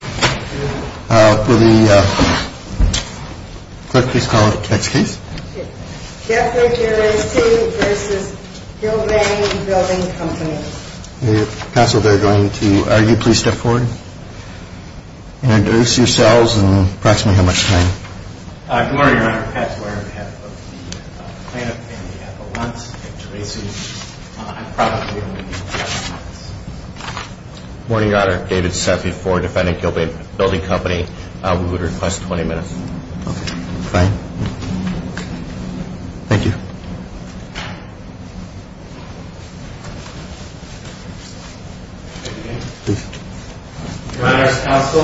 Will the clerk please call the next case? Jeffrey Gerasi v. Gilbane Building Company Counsel, they're going to argue. Please step forward. Introduce yourselves and proximate how much time. Good morning, Your Honor. Pat Zwerg, head of the plaintiff and the appellants at Gerasi. I'm proud to be on the defense. Good morning, Your Honor. David Seffi for defendant Gilbane Building Company. We would request 20 minutes. Okay. Fine. Thank you. Your Honor's counsel.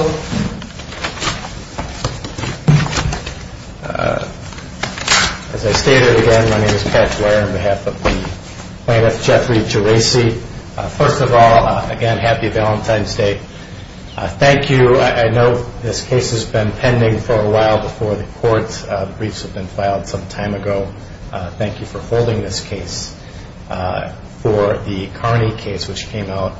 As I stated again, my name is Pat Zwerg on behalf of the plaintiff, Jeffrey Gerasi. First of all, again, happy Valentine's Day. Thank you. I know this case has been pending for a while before the court. Briefs have been filed some time ago. Thank you for holding this case. For the Carney case which came out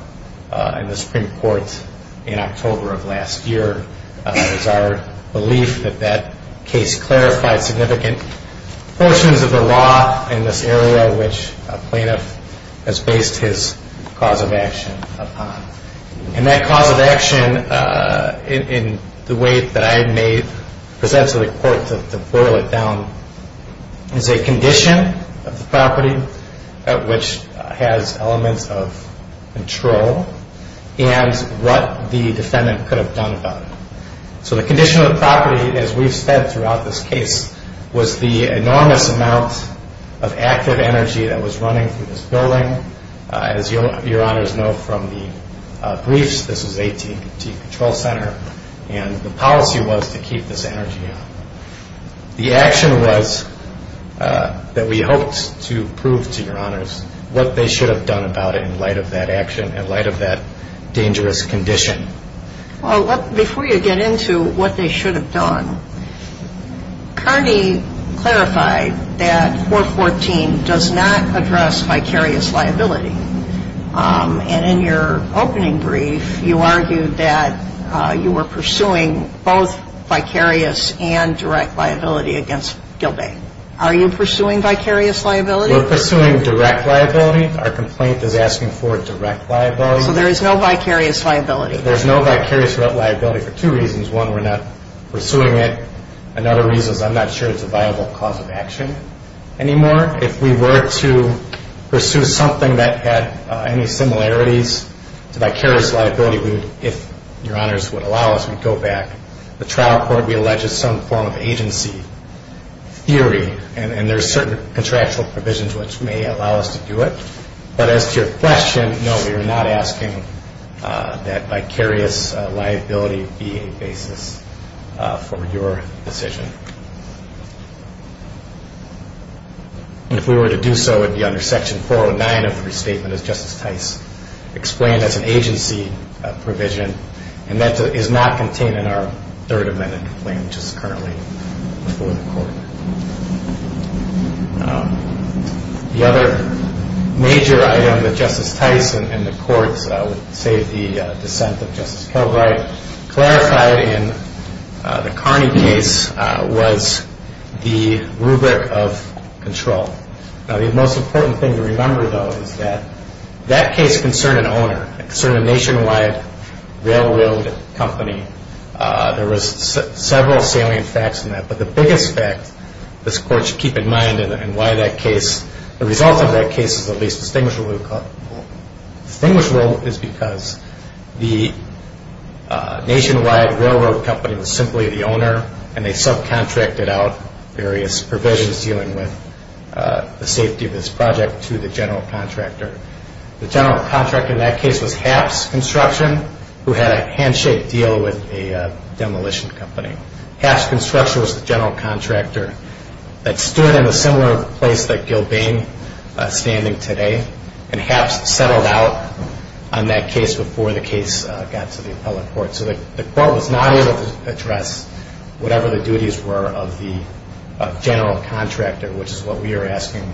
in the Supreme Court in October of last year, it is our belief that that case clarified significant portions of the law in this area which a plaintiff has based his cause of action upon. And that cause of action in the way that I had made it present to the court to boil it down is a condition of the property which has elements of control and what the defendant could have done about it. So the condition of the property, as we've said throughout this case, was the enormous amount of active energy that was running through this building. As your Honors know from the briefs, this is AT&T Control Center and the policy was to keep this energy up. The action was that we hoped to prove to your Honors what they should have done about it in light of that action, in light of that dangerous condition. Before you get into what they should have done, Carney clarified that 414 does not address vicarious liability. And in your opening brief, you argued that you were pursuing both vicarious and direct liability against Gilbay. Are you pursuing vicarious liability? We're pursuing direct liability. Our complaint is asking for direct liability. So there is no vicarious liability? There's no vicarious liability for two reasons. One, we're not pursuing it. Another reason is I'm not sure it's a viable cause of action anymore. If we were to pursue something that had any similarities to vicarious liability, if your Honors would allow us, we'd go back. The trial court, we allege, is some form of agency theory and there are certain contractual provisions which may allow us to do it. But as to your question, no, we are not asking that vicarious liability be a basis for your decision. If we were to do so, it would be under Section 409 of the Restatement, as Justice Tice explained, that's an agency provision and that is not contained in our Third Amendment complaint, which is currently before the court. The other major item that Justice Tice and the courts, save the dissent of Justice Kilbright, clarified in the Carney case was the rubric of control. Now, the most important thing to remember, though, is that that case concerned an owner, it concerned a nationwide railroad company. There was several salient facts in that, but the biggest fact this court should keep in mind and why the result of that case is at least distinguishable is because the nationwide railroad company was simply the owner and they subcontracted out various provisions dealing with the safety of this project to the general contractor. The general contractor in that case was Haps Construction, who had a handshake deal with a demolition company. Haps Construction was the general contractor that stood in a similar place that Gilbane is standing today and Haps settled out on that case before the case got to the appellate court. So, the court was not able to address whatever the duties were of the general contractor, which is what we are asking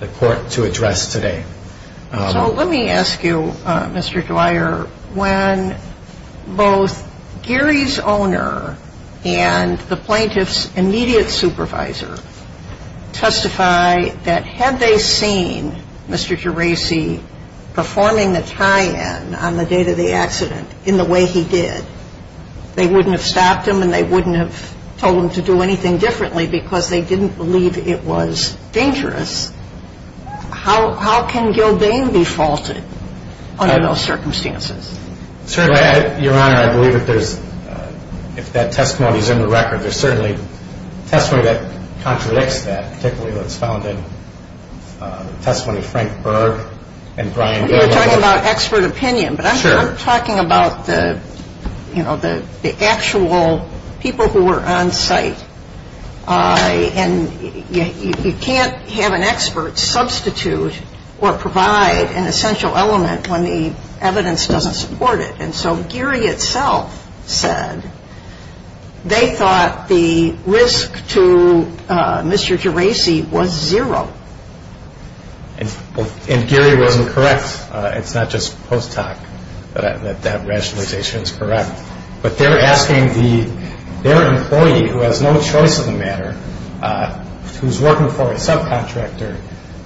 the court to address today. So, let me ask you, Mr. Dwyer, when both Gary's owner and the plaintiff's immediate supervisor testify that had they seen Mr. Geraci performing the tie-in on the date of the accident in the way he did, they wouldn't have stopped him and they wouldn't have told him to do anything differently because they didn't believe it was dangerous. How can Gilbane be faulted under those circumstances? Certainly, Your Honor, I believe if that testimony is in the record, there's certainly testimony that contradicts that, particularly what's found in the testimony of Frank Berg and Brian Geraci. You're talking about expert opinion, but I'm talking about the actual people who were on site. And you can't have an expert substitute or provide an essential element when the evidence doesn't support it. And so, Gary itself said they thought the risk to Mr. Geraci was zero. And Gary wasn't correct. It's not just post hoc that that rationalization is correct. But they're asking their employee, who has no choice in the matter, who's working for a subcontractor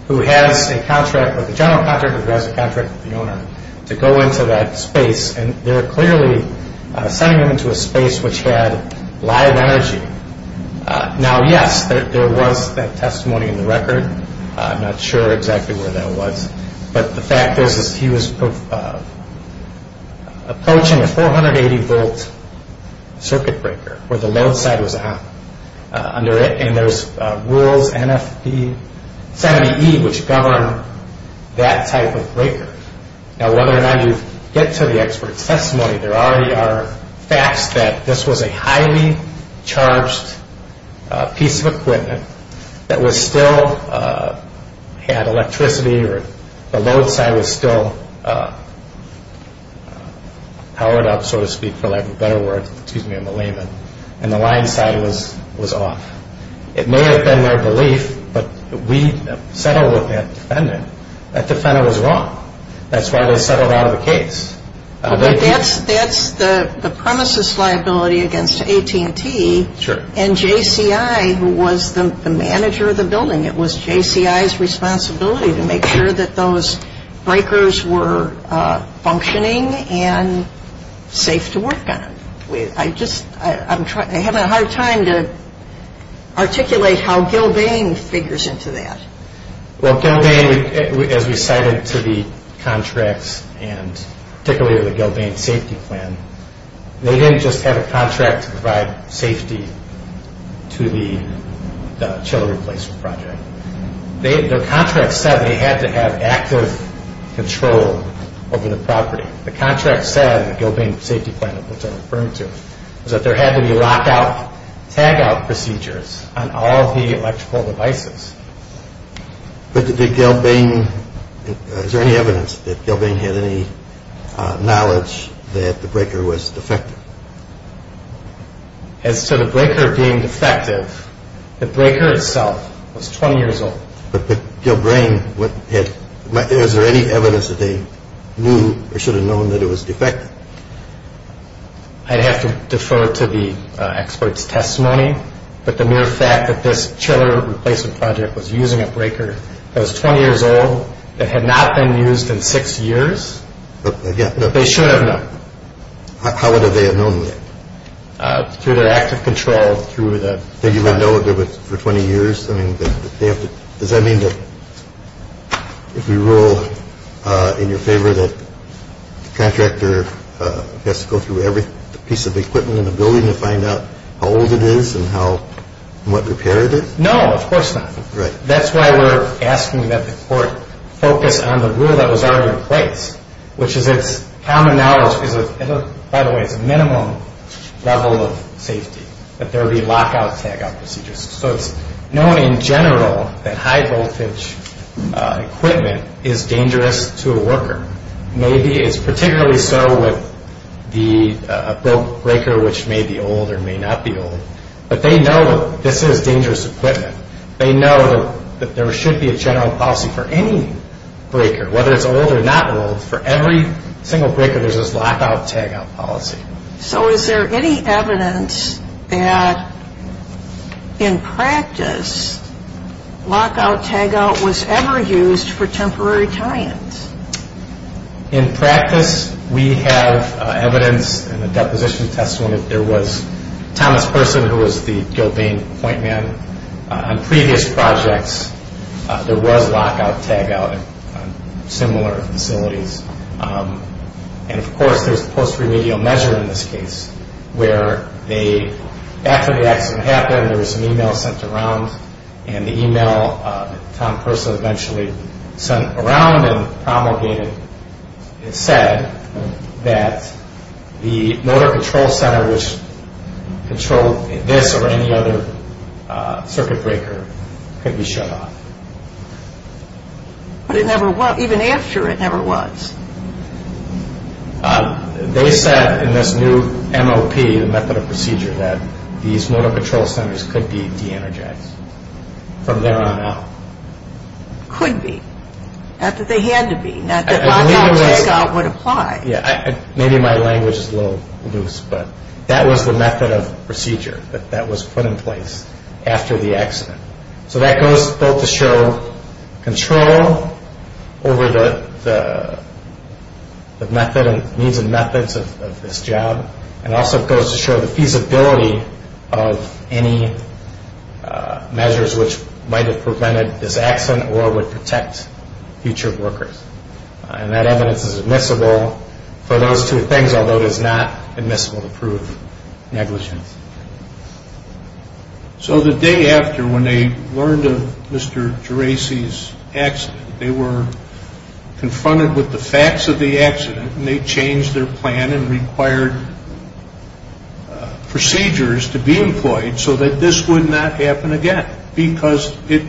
who has a contract with the general contractor who has a contract with the owner, to go into that space. And they're clearly sending him into a space which had live energy. Now, yes, there was that testimony in the record. I'm not sure exactly where that was. But the fact is, he was approaching a 480-volt circuit breaker where the load side was on under it. And there's rules, NFB 70E, which govern that type of breaker. Now, whether or not you get to the expert testimony, there already are facts that this was a highly charged piece of equipment that still had electricity or the load side was still powered up, so to speak, for lack of a better word, excuse me, in the layman. And the line side was off. It may have been their belief, but we settled with that defendant. That defendant was wrong. That's why they settled out of the case. That's the premises liability against AT&T. Sure. And JCI, who was the manager of the building, it was JCI's responsibility to make sure that those breakers were functioning and safe to work on. I'm having a hard time to articulate how Gilbane figures into that. Well, Gilbane, as we cited to the contracts and particularly the Gilbane safety plan, they didn't just have a contract to provide safety to the chiller replacement project. Their contract said they had to have active control over the property. The contract said, the Gilbane safety plan, which I'm referring to, is that there had to be lockout, tagout procedures on all the electrical devices. But did Gilbane, is there any evidence that Gilbane had any knowledge that the breaker was defective? As to the breaker being defective, the breaker itself was 20 years old. But Gilbane, is there any evidence that they knew or should have known that it was defective? I'd have to defer to the expert's testimony, but the mere fact that this chiller replacement project was using a breaker that was 20 years old that had not been used in six years, they should have known. How would they have known that? Through their active control through the... They didn't know if it was for 20 years. Does that mean that if we rule in your favor that the contractor has to go through every piece of equipment in the building to find out how old it is and what repair it is? No, of course not. That's why we're asking that the court focus on the rule that was already in place, which is its common knowledge. By the way, it's minimum level of safety that there be lockout, tagout procedures. So it's known in general that high voltage equipment is dangerous to a worker. Maybe it's particularly so with the broke breaker, which may be old or may not be old. But they know this is dangerous equipment. They know that there should be a general policy for any breaker, whether it's old or not old. For every single breaker, there's this lockout, tagout policy. So is there any evidence that, in practice, lockout, tagout was ever used for temporary tie-ins? In practice, we have evidence in the deposition testimony. There was Thomas Person, who was the Gilbane point man. On previous projects, there was lockout, tagout on similar facilities. Of course, there's the post-remedial measure in this case, where after the accident happened, there was an email sent around. The email that Tom Person eventually sent around and promulgated said that the motor control center, which controlled this or any other circuit breaker, could be shut off. But even after, it never was. They said in this new MOP, the method of procedure, that these motor control centers could be de-energized from there on out. Could be. Not that they had to be. Not that lockout, tagout would apply. Maybe my language is a little loose, but that was the method of procedure that was put in place after the accident. So that goes both to show control over the means and methods of this job, and also goes to show the feasibility of any measures which might have prevented this accident or would protect future workers. And that evidence is admissible for those two things, although it is not admissible to prove negligence. So the day after, when they learned of Mr. Geraci's accident, they were confronted with the facts of the accident, and they changed their plan and required procedures to be employed so that this would not happen again because it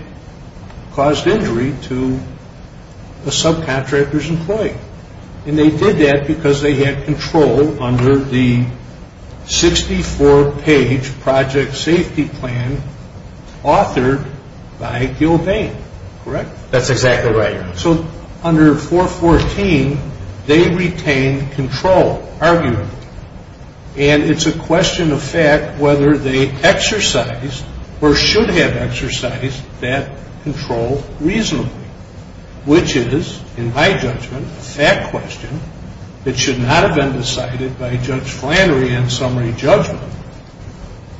caused injury to a subcontractor's employee. And they did that because they had control under the 64-page project safety plan authored by Gil Bain, correct? That's exactly right. And it's a question of fact whether they exercised or should have exercised that control reasonably, which is, in my judgment, a fact question that should not have been decided by Judge Flannery in summary judgment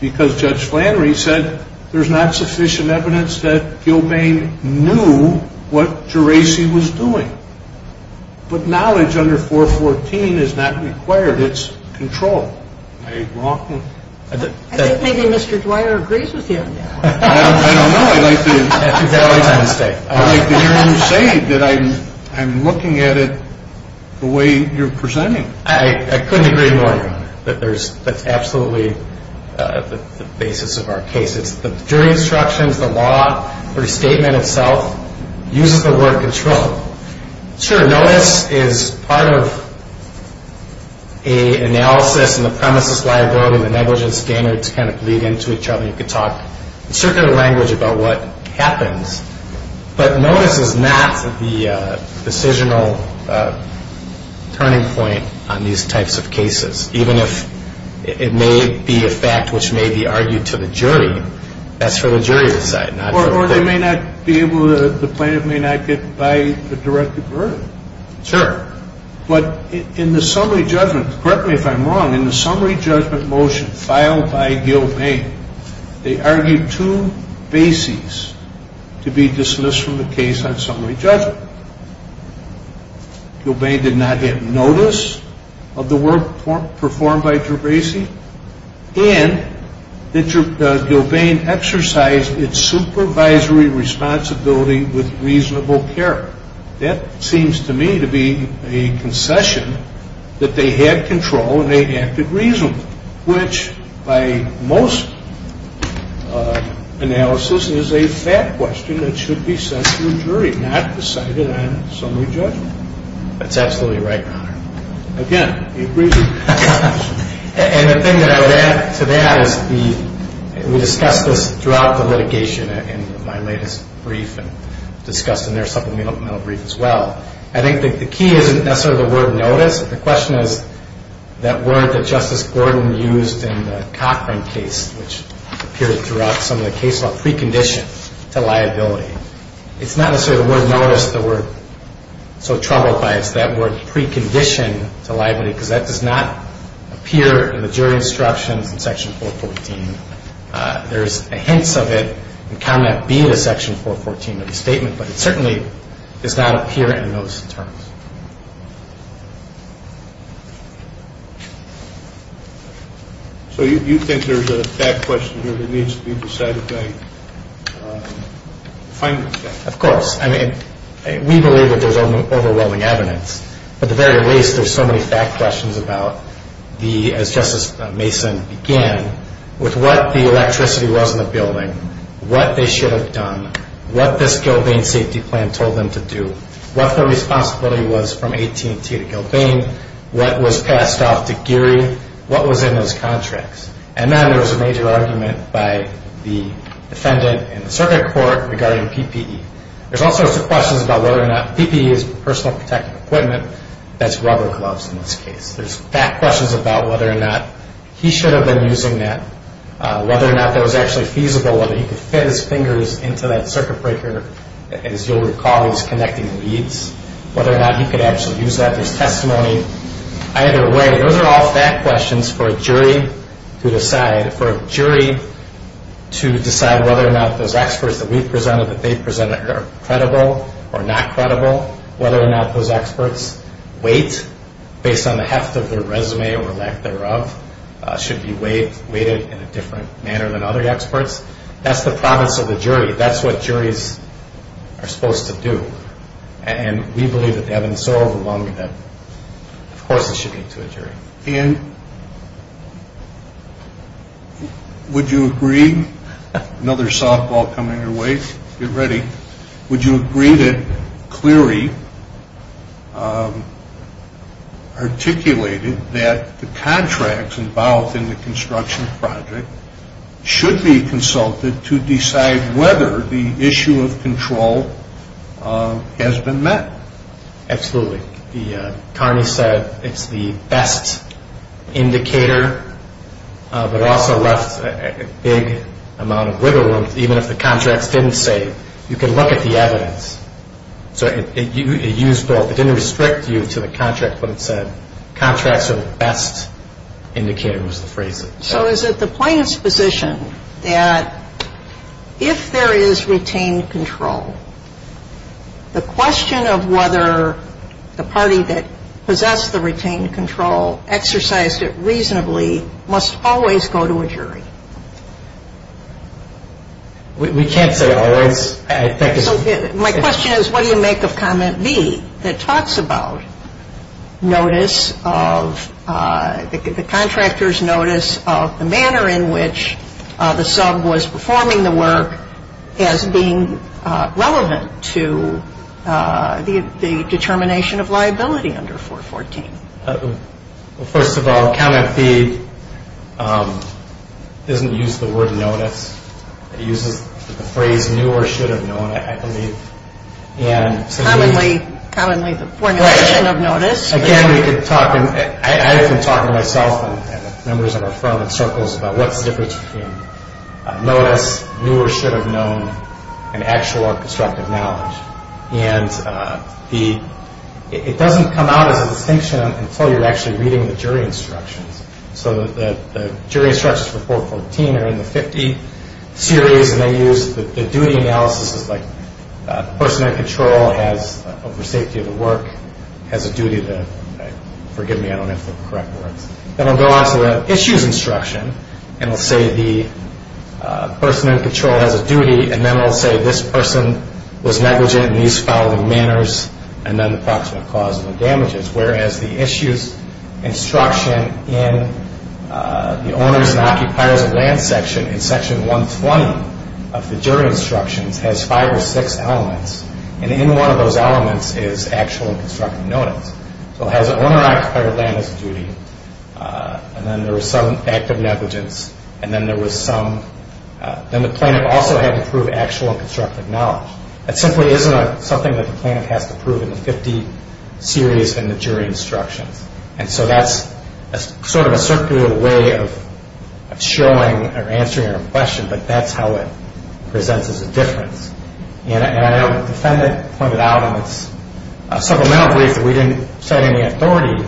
because Judge Flannery said there's not sufficient evidence that Gil Bain knew what Geraci was doing. But knowledge under 414 is not required. It's controlled. Am I wrong? I think maybe Mr. Dwyer agrees with you. I don't know. I'd like to hear him say that I'm looking at it the way you're presenting it. I couldn't agree more. That's absolutely the basis of our case. It's the jury instructions, the law, the restatement itself uses the word controlled. Sure, notice is part of an analysis and the premises liability and the negligence standards kind of bleed into each other. You could talk in circular language about what happens. But notice is not the decisional turning point on these types of cases, even if it may be a fact which may be argued to the jury. That's for the jury to decide. Or they may not be able to, the plaintiff may not get by a directed verdict. Sure. But in the summary judgment, correct me if I'm wrong, in the summary judgment motion filed by Gil Bain, they argued two bases to be dismissed from the case on summary judgment. Gil Bain did not get notice of the work performed by Trebasi and that Gil Bain exercised its supervisory responsibility with reasonable care. That seems to me to be a concession that they had control and they acted reasonably, which by most analysis is a fact question that should be set to the jury, not decided on summary judgment. That's absolutely right, Your Honor. Again, we agree with you. And the thing that I would add to that is we discussed this throughout the litigation in my latest brief and discussed in their supplemental brief as well. I think the key isn't necessarily the word notice. The question is that word that Justice Gordon used in the Cochran case, which appeared throughout some of the case law, precondition to liability. It's not necessarily the word notice that we're so troubled by. It's that word precondition to liability, because that does not appear in the jury instructions in Section 414. There's hints of it in comment B to Section 414 of the statement, but it certainly does not appear in those terms. So you think there's a fact question here that needs to be decided by finding the fact? Of course. I mean, we believe that there's overwhelming evidence, but at the very least there's so many fact questions about the, as Justice Mason began, with what the electricity was in the building, what they should have done, what this Gilbane safety plan told them to do, what the responsibility was from AT&T to Gilbane, what was passed off to Geary, what was in those contracts. And then there was a major argument by the defendant in the circuit court regarding PPE. There's all sorts of questions about whether or not PPE is personal protective equipment. That's rubber gloves in this case. There's fact questions about whether or not he should have been using that, whether or not that was actually feasible, whether he could fit his fingers into that circuit breaker. As you'll recall, he was connecting leads, whether or not he could actually use that. There's testimony. Either way, those are all fact questions for a jury to decide, for a jury to decide whether or not those experts that we presented, that they presented are credible or not credible, whether or not those experts' weight, based on the heft of their resume or lack thereof, should be weighted in a different manner than other experts. That's the promise of the jury. That's what juries are supposed to do. And we believe that they have been so overwhelming that, of course, it should be to a jury. And would you agree, another softball coming your way. Get ready. Would you agree that Cleary articulated that the contracts involved in the construction project should be consulted to decide whether the issue of control has been met? Absolutely. Connie said it's the best indicator, but also left a big amount of wiggle room. Even if the contracts didn't say, you can look at the evidence. So it used both. It didn't restrict you to the contract, but it said, contracts are the best indicator was the phrase. So is it the plaintiff's position that if there is retained control, the question of whether the party that possessed the retained control exercised it reasonably must always go to a jury? We can't say always. My question is, what do you make of comment B that talks about notice of, the contractor's notice of the manner in which the sub was performing the work as being relevant to the determination of liability under 414? First of all, comment B doesn't use the word notice. It uses the phrase knew or should have known, I believe. Commonly the formulation of notice. Again, I've been talking to myself and members of our firm in circles about what's the difference between notice, knew or should have known, and actual or constructive knowledge. It doesn't come out as a distinction until you're actually reading the jury instructions. So the jury instructions for 414 are in the 50 series, and they use the duty analysis like the person in control has, for safety of the work, has a duty to, forgive me, I don't know if they're correct words. Then I'll go on to the issues instruction, and I'll say the person in control has a duty, and then I'll say this person was negligent in these following manners, and then the approximate cause of the damages. Whereas the issues instruction in the owners and occupiers of land section, in section 120 of the jury instructions has five or six elements, and in one of those elements is actual and constructive notice. So it has an owner and occupier of land has a duty, and then there was some active negligence, and then the plaintiff also had to prove actual and constructive knowledge. That simply isn't something that the plaintiff has to prove in the 50 series in the jury instructions. And so that's sort of a circular way of showing or answering a question, but that's how it presents as a difference. And I know the defendant pointed out on this supplemental brief that we didn't cite any authority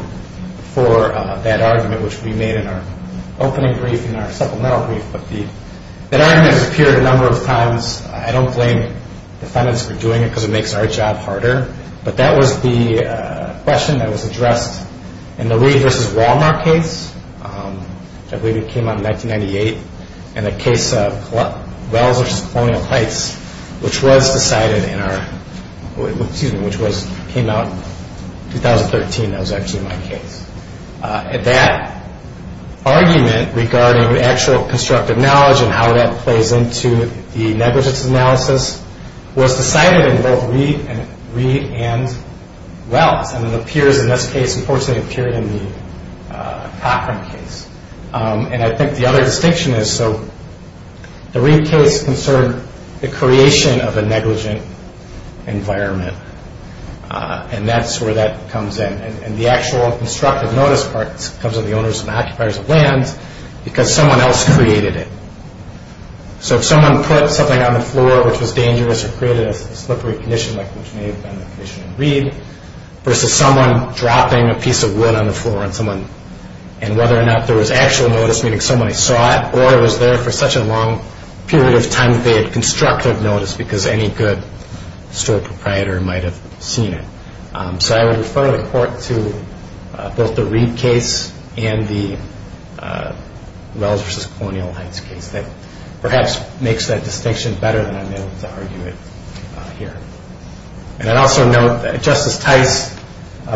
for that argument, which we made in our opening brief in our supplemental brief, but that argument has appeared a number of times. I don't blame the defendants for doing it because it makes our job harder, but that was the question that was addressed in the Reed v. Walmart case, I believe it came out in 1998, and the case of Wells v. Colonial Heights, which was decided in our, which came out in 2013, that was actually my case. That argument regarding actual and constructive knowledge and how that plays into the negligence analysis was decided in both Reed and Wells, and it appears in this case, unfortunately, it appeared in the Cochran case. And I think the other distinction is, so, the Reed case concerned the creation of a negligent environment, and that's where that comes in, and the actual constructive notice part comes from the owners and occupiers of lands, because someone else created it. So if someone put something on the floor which was dangerous or created a slippery condition like which may have been the case in Reed, versus someone dropping a piece of wood on the floor on someone, and whether or not there was actual notice, meaning somebody saw it, or it was there for such a long period of time that they had constructive notice because any good store proprietor might have seen it. So I would refer the court to both the Reed case and the Wells versus Colonial Heights case. That perhaps makes that distinction better than I'm able to argue it here. And I'd also note that Justice Tice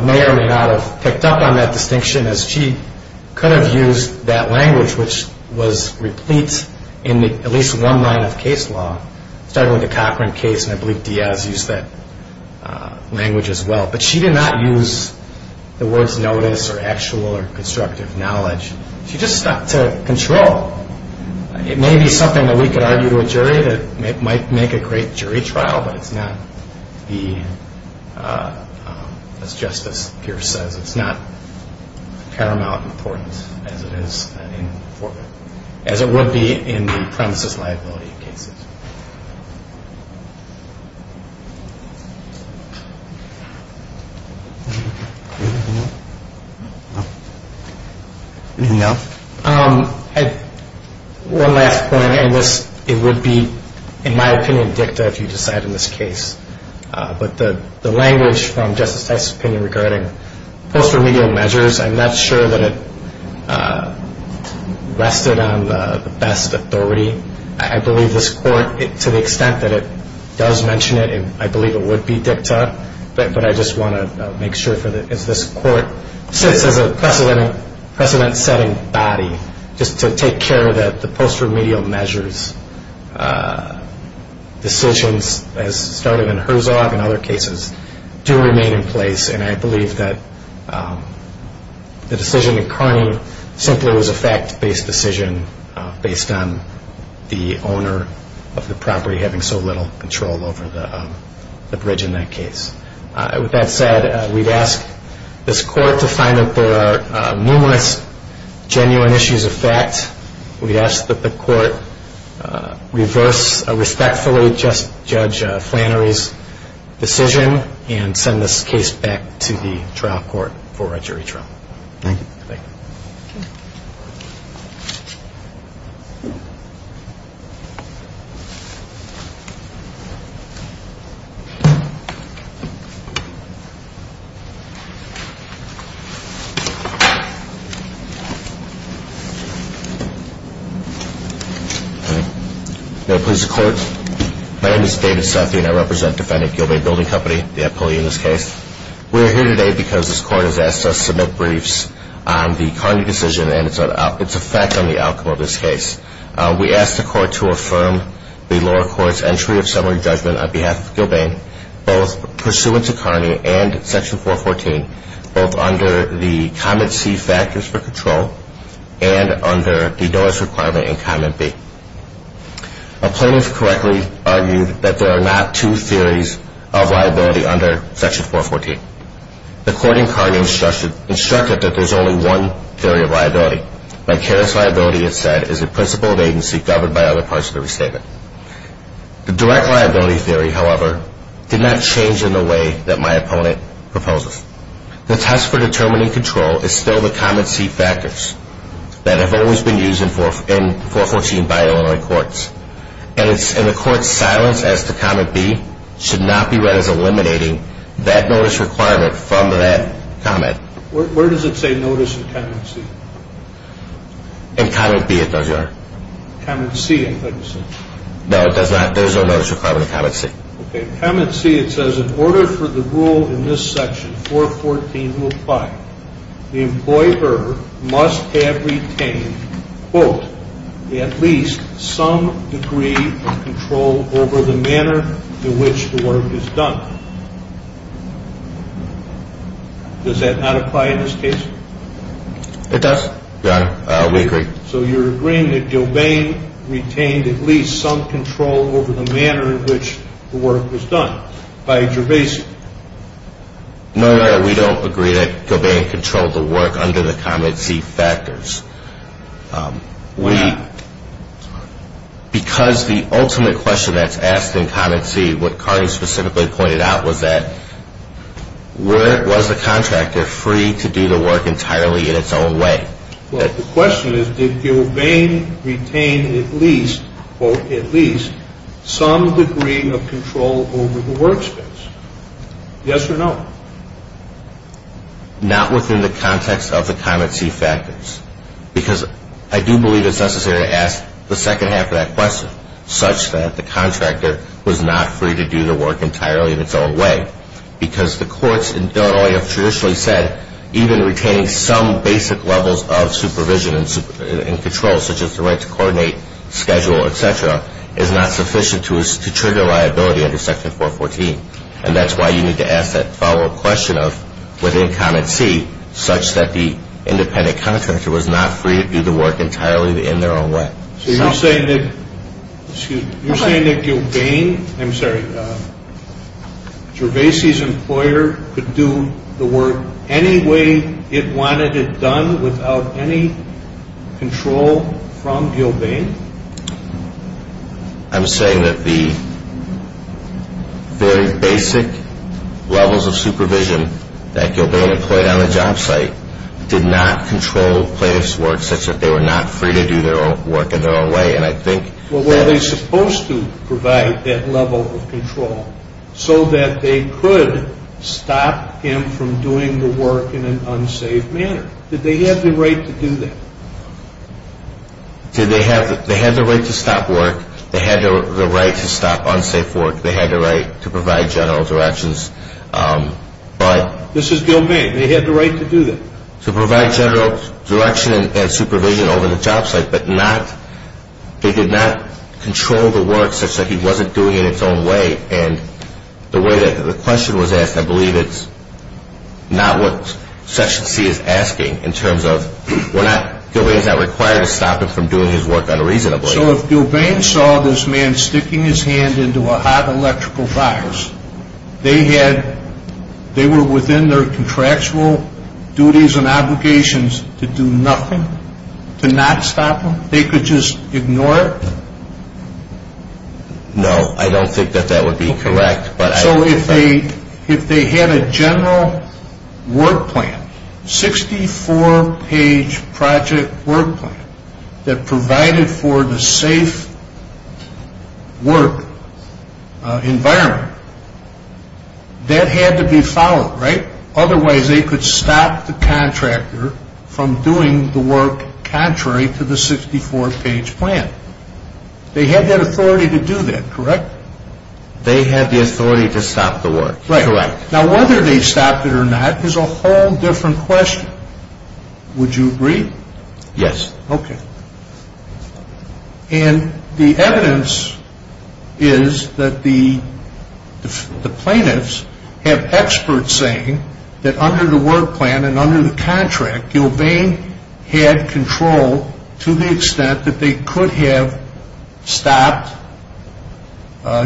may or may not have picked up on that distinction as she could have used that language which was replete in at least one line of case law, starting with the Cochran case, and I believe Diaz used that language as well. But she did not use the words notice or actual or constructive knowledge. She just stuck to control. It may be something that we could argue to a jury that might make a great jury trial, but it's not the, as Justice Pierce says, it's not paramount importance as it is, as it would be in the premises liability cases. Anything else? One last point, and it would be, in my opinion, dicta if you decide in this case. But the language from Justice Tice's opinion regarding post remedial measures, I'm not sure that it rested on the best authority. I believe this court, to the extent that it does mention it, I believe it would be dicta. But I just want to make sure, as this court sits as a precedent-setting body, just to take care that the post remedial measures decisions, as started in Herzog and other cases, do remain in place. And I believe that the decision in Carney simply was a fact-based decision based on the owner of the property having so little control over the bridge in that case. With that said, we'd ask this court to find that there are numerous genuine issues of fact. We'd ask that the court reverse respectfully Judge Flannery's decision and send this case back to the trial court for a jury trial. Thank you. Thank you. Thank you. May I please have the court? My name is David Sethi and I represent defendant Gilbert Building Company, the employee in this case. We're here today because this court has asked us to make briefs on the Carney decision and its effect on the outcome of this case. We ask the court to affirm the lower court's entry of summary judgment on behalf of Gilbane, both pursuant to Carney and Section 414, both under the comment C factors for control and under the notice requirement in comment B. A plaintiff correctly argued that there are not two theories of liability under Section 414. The court in Carney instructed that there's only one theory of liability. Vicarious liability, it said, is a principle of agency governed by other parts of the restatement. The direct liability theory, however, did not change in the way that my opponent proposes. The test for determining control is still the comment C factors that have always been used in 414 by Illinois courts. And the court's silence as to comment B should not be read as eliminating that notice requirement from that comment. Where does it say notice in comment C? In comment B, it does, Your Honor. Comment C, it doesn't say. No, it does not. There's no notice requirement in comment C. Okay, in comment C it says, in order for the rule in this section, 414, to apply, the employer must have retained, quote, at least some degree of control over the manner in which the work is done. Does that not apply in this case? It does, Your Honor. We agree. So you're agreeing that Gilbane retained at least some control over the manner in which the work was done by Gervasey. No, Your Honor, we don't agree that Gilbane controlled the work under the comment C factors. Why not? Because the ultimate question that's asked in comment C, what Carney specifically pointed out, was that where was the contractor free to do the work entirely in its own way? Well, the question is, did Gilbane retain at least, quote, at least some degree of control over the workspace? Yes or no? Not within the context of the comment C factors, because I do believe it's necessary to ask the second half of that question, such that the contractor was not free to do the work entirely in its own way, because the courts in Illinois have traditionally said, even retaining some basic levels of supervision and control, such as the right to coordinate, schedule, et cetera, is not sufficient to trigger liability under Section 414. And that's why you need to ask that follow-up question of, within comment C, such that the independent contractor was not free to do the work entirely in their own way. So you're saying that, excuse me, you're saying that Gilbane, I'm sorry, Gervasey's employer could do the work any way it wanted it done without any control from Gilbane? I'm saying that the very basic levels of supervision that Gilbane employed on the job site did not control play this work such that they were not free to do their own work in their own way, and I think that... Well, were they supposed to provide that level of control so that they could stop him from doing the work in an unsafe manner? Did they have the right to do that? They had the right to stop work. They had the right to stop unsafe work. They had the right to provide general directions, but... This is Gilbane. They had the right to do that. To provide general direction and supervision over the job site, but they did not control the work such that he wasn't doing it in his own way, and the way that the question was asked, I believe it's not what Section C is asking in terms of, we're not, Gilbane's not required to stop him from doing his work unreasonably. So if Gilbane saw this man sticking his hand into a hot electrical fire, they were within their contractual duties and obligations to do nothing, to not stop him? They could just ignore it? No, I don't think that that would be correct, but... So if they had a general work plan, 64-page project work plan, that provided for the safe work environment, that had to be followed, right? Otherwise they could stop the contractor from doing the work contrary to the 64-page plan. They had that authority to do that, correct? They had the authority to stop the work, correct. Right. Now whether they stopped it or not is a whole different question. Would you agree? Yes. Okay. And the evidence is that the plaintiffs have experts saying that under the work plan and under the contract, Gilbane had control to the extent that they could have stopped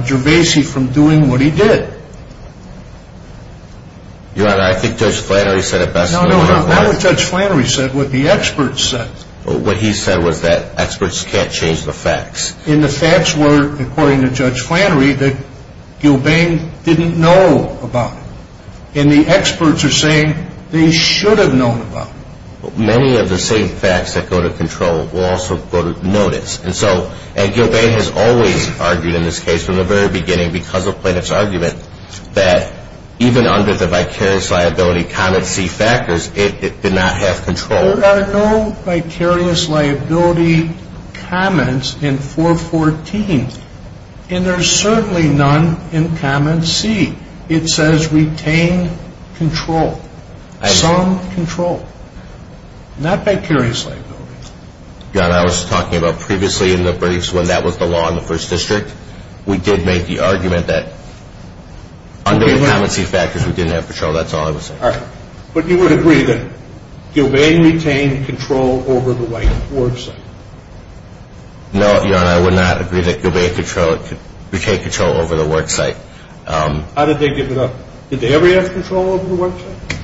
Gervase from doing what he did. Your Honor, I think Judge Flannery said it best. No, no, not what Judge Flannery said, what the experts said. What he said was that experts can't change the facts. And the facts were, according to Judge Flannery, that Gilbane didn't know about. And the experts are saying that he should have known about it. Many of the same facts that go to control will also go to notice. And so, and Gilbane has always argued in this case from the very beginning, because of plaintiff's argument, that even under the vicarious liability comment C factors, it did not have control. There are no vicarious liability comments in 414. And there's certainly none in comment C. It says retain control. Some control. Not vicarious liability. Your Honor, I was talking about previously in the briefs when that was the law in the first district. We did make the argument that under the comment C factors, we didn't have control. That's all I was saying. But you would agree that Gilbane retained control over the white worksite? No, Your Honor, I would not agree that Gilbane retained control over the worksite. How did they give it up? Did they ever have control over the worksite?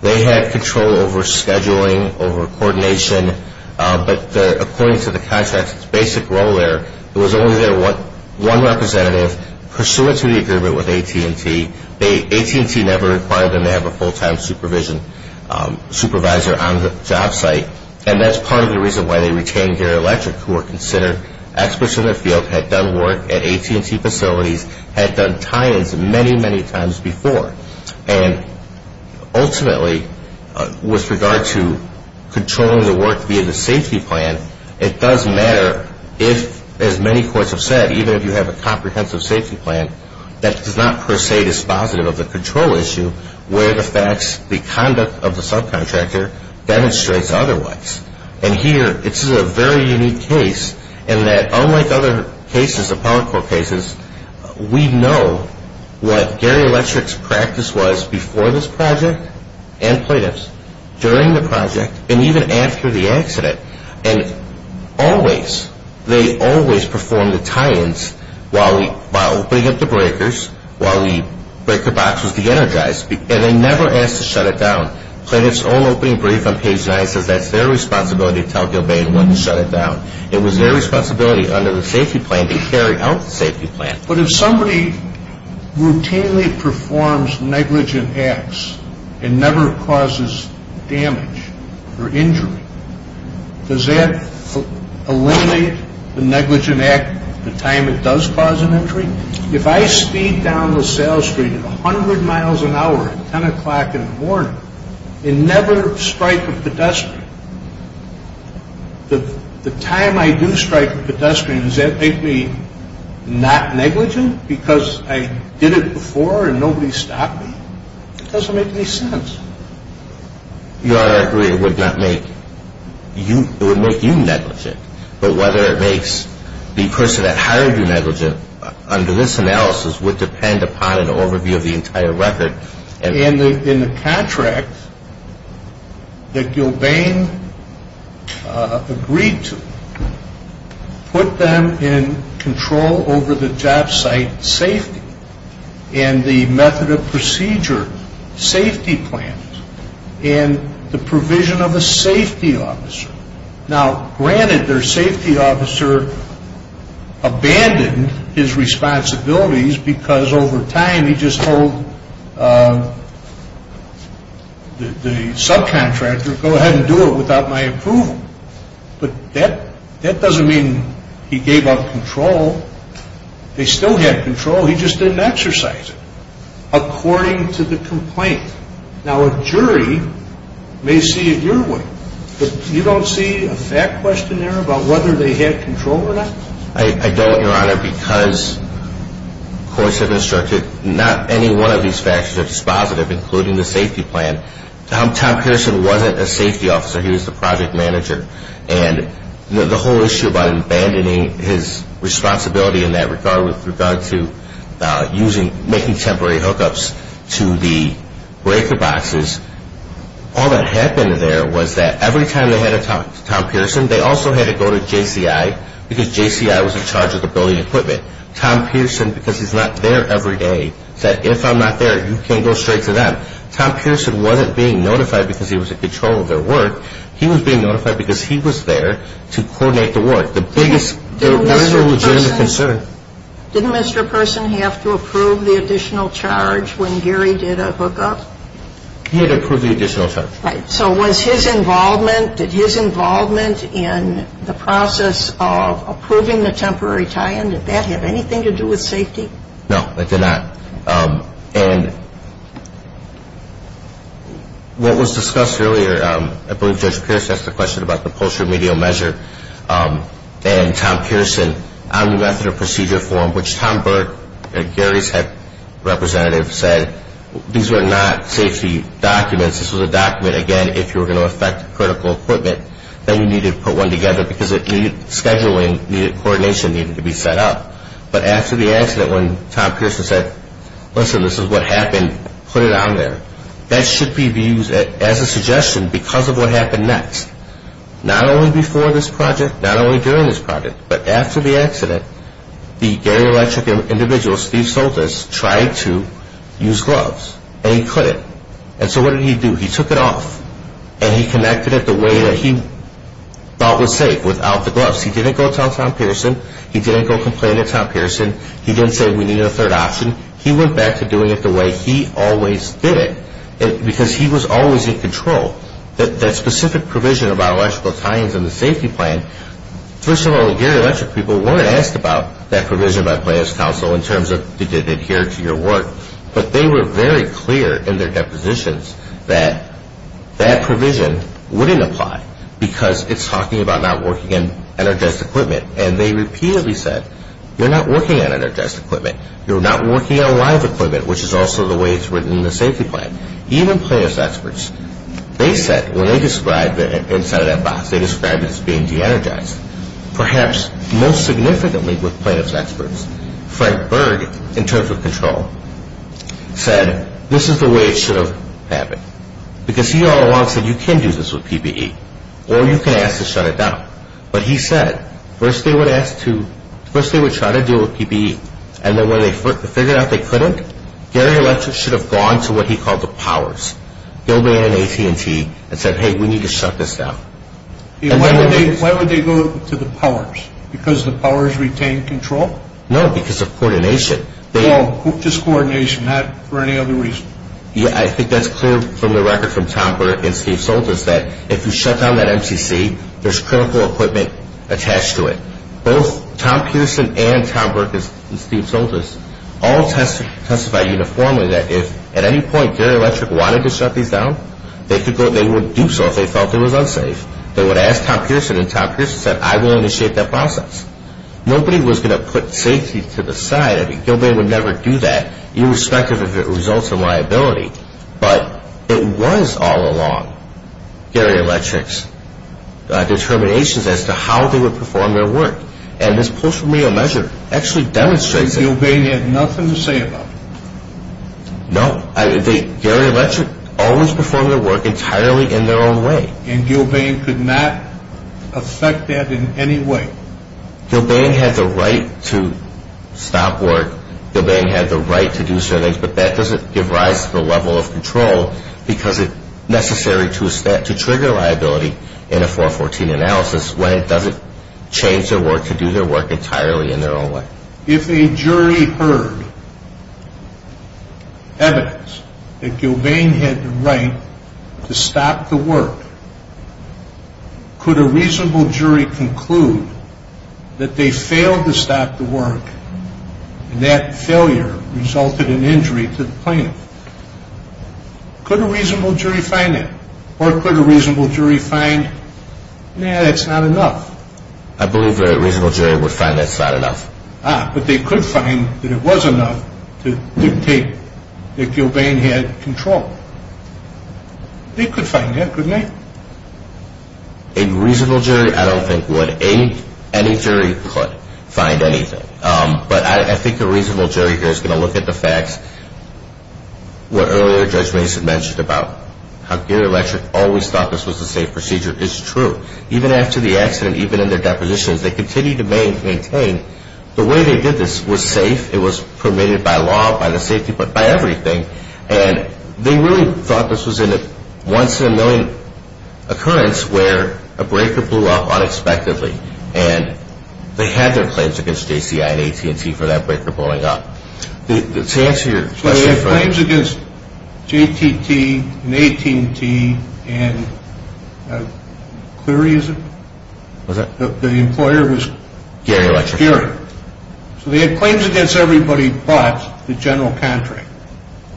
They had control over scheduling, over coordination. But according to the contract's basic role there, it was only their one representative pursuant to the agreement with AT&T. AT&T never required them to have a full-time supervisor on the job site. And that's part of the reason why they retained Gary Electric, who were considered experts in their field, had done work at AT&T facilities, had done tie-ins many, many times before. And ultimately, with regard to controlling the work via the safety plan, it does matter if, as many courts have said, even if you have a comprehensive safety plan that is not per se dispositive of the control issue where the facts, the conduct of the subcontractor demonstrates otherwise. And here, this is a very unique case in that unlike other cases, the power court cases, we know what Gary Electric's practice was before this project and plaintiff's during the project and even after the accident. And always, they always performed the tie-ins while opening up the breakers, while we break the boxes, de-energize. And they never asked to shut it down. Plaintiff's own opening brief on page 9 says that's their responsibility to tell Gilbane when to shut it down. It was their responsibility under the safety plan to carry out the safety plan. But if somebody routinely performs negligent acts and never causes damage or injury, does that eliminate the negligent act the time it does cause an injury? If I speed down the sales street at 100 miles an hour at 10 o'clock in the morning and never strike a pedestrian, the time I do strike a pedestrian, does that make me not negligent because I did it before and nobody stopped me? It doesn't make any sense. Your Honor, I agree it would make you negligent. But whether it makes the person that hired you negligent under this analysis would depend upon an overview of the entire record. And the contract that Gilbane agreed to put them in control over the job site safety and the method of procedure, safety plans, and the provision of a safety officer. Now, granted their safety officer abandoned his responsibilities because over time he just told the subcontractor, go ahead and do it without my approval. But that doesn't mean he gave up control. They still had control. He just didn't exercise it according to the complaint. Now, a jury may see it your way, but you don't see a fact questionnaire about whether they had control or not? I don't, Your Honor, because courts have instructed not any one of these factors are dispositive, including the safety plan. Tom Pearson wasn't a safety officer. He was the project manager. And the whole issue about abandoning his responsibility in that regard with regard to making temporary hookups to the breaker boxes, all that happened there was that every time they had a Tom Pearson, they also had to go to JCI because JCI was in charge of the building equipment. Tom Pearson, because he's not there every day, said if I'm not there, you can't go straight to them. Tom Pearson wasn't being notified because he was in control of their work. He was being notified because he was there to coordinate the work. The biggest legitimate concern. Didn't Mr. Pearson have to approve the additional charge when Gary did a hookup? He had to approve the additional charge. Right. So was his involvement, did his involvement in the process of approving the temporary tie-in, did that have anything to do with safety? No, it did not. And what was discussed earlier, I believe Judge Pierce asked the question about the post remedial measure and Tom Pearson on the method of procedure form, which Tom Burke, Gary's head representative, said, these were not safety documents. This was a document, again, if you were going to affect critical equipment, then you needed to put one together because it needed scheduling, needed coordination, needed to be set up. But after the accident when Tom Pearson said, listen, this is what happened, put it on there, that should be used as a suggestion because of what happened next. Not only before this project, not only during this project, but after the accident, the Gary Electric individual, Steve Soltis, tried to use gloves and he couldn't. And so what did he do? He took it off and he connected it the way that he thought was safe without the gloves. He didn't go tell Tom Pearson. He didn't go complain to Tom Pearson. He didn't say we needed a third option. He went back to doing it the way he always did it because he was always in control. That specific provision about electrical tie-ins and the safety plan, first of all, the Gary Electric people weren't asked about that provision by plans council in terms of did it adhere to your work, but they were very clear in their depositions that that provision wouldn't apply because it's talking about not working on energized equipment. And they repeatedly said, you're not working on energized equipment. You're not working on live equipment, which is also the way it's written in the safety plan. Even plaintiff's experts, they said when they described the inside of that box, they described it as being de-energized. Perhaps most significantly with plaintiff's experts, Frank Berg, in terms of control, said this is the way it should have happened because he all along said you can do this with PPE or you can ask to shut it down. But he said first they would try to deal with PPE and then when they figured out they couldn't, Gary Electric should have gone to what he called the powers, and said, hey, we need to shut this down. Why would they go to the powers? Because the powers retain control? No, because of coordination. Well, just coordination, not for any other reason. Yeah, I think that's clear from the record from Tom Berg and Steve Soltis that if you shut down that MCC, there's critical equipment attached to it. Both Tom Peterson and Tom Berg and Steve Soltis all testified uniformly that if at any point Gary Electric wanted to shut these down, they would do so if they felt it was unsafe. They would ask Tom Pearson and Tom Pearson said, I'm willing to shape that process. Nobody was going to put safety to the side. I mean, Gilbane would never do that irrespective of if it results in liability. But it was all along Gary Electric's determinations as to how they would perform their work. And this post-remedial measure actually demonstrates it. They had nothing to say about it. No. Gary Electric always performed their work entirely in their own way. And Gilbane could not affect that in any way. Gilbane had the right to stop work. Gilbane had the right to do certain things. But that doesn't give rise to the level of control because it's necessary to trigger liability in a 414 analysis when it doesn't change their work to do their work entirely in their own way. If a jury heard evidence that Gilbane had the right to stop the work, could a reasonable jury conclude that they failed to stop the work and that failure resulted in injury to the plaintiff? Could a reasonable jury find that? Or could a reasonable jury find, nah, that's not enough? I believe a reasonable jury would find that's not enough. Ah, but they could find that it was enough to dictate that Gilbane had control. They could find that, couldn't they? A reasonable jury, I don't think would. Any jury could find anything. But I think a reasonable jury here is going to look at the facts. What earlier Judge Mason mentioned about how Gary Electric always thought this was a safe procedure is true. Even after the accident, even in their depositions, they continued to maintain the way they did this was safe. It was permitted by law, by the safety, by everything. And they really thought this was a once-in-a-million occurrence where a breaker blew up unexpectedly. And they had their claims against JCI and AT&T for that breaker blowing up. Let's answer your question first. They had claims against JTT and AT&T and Cleary, is it? Was it? The employer was Cleary. Gary Electric. So they had claims against everybody but the general contract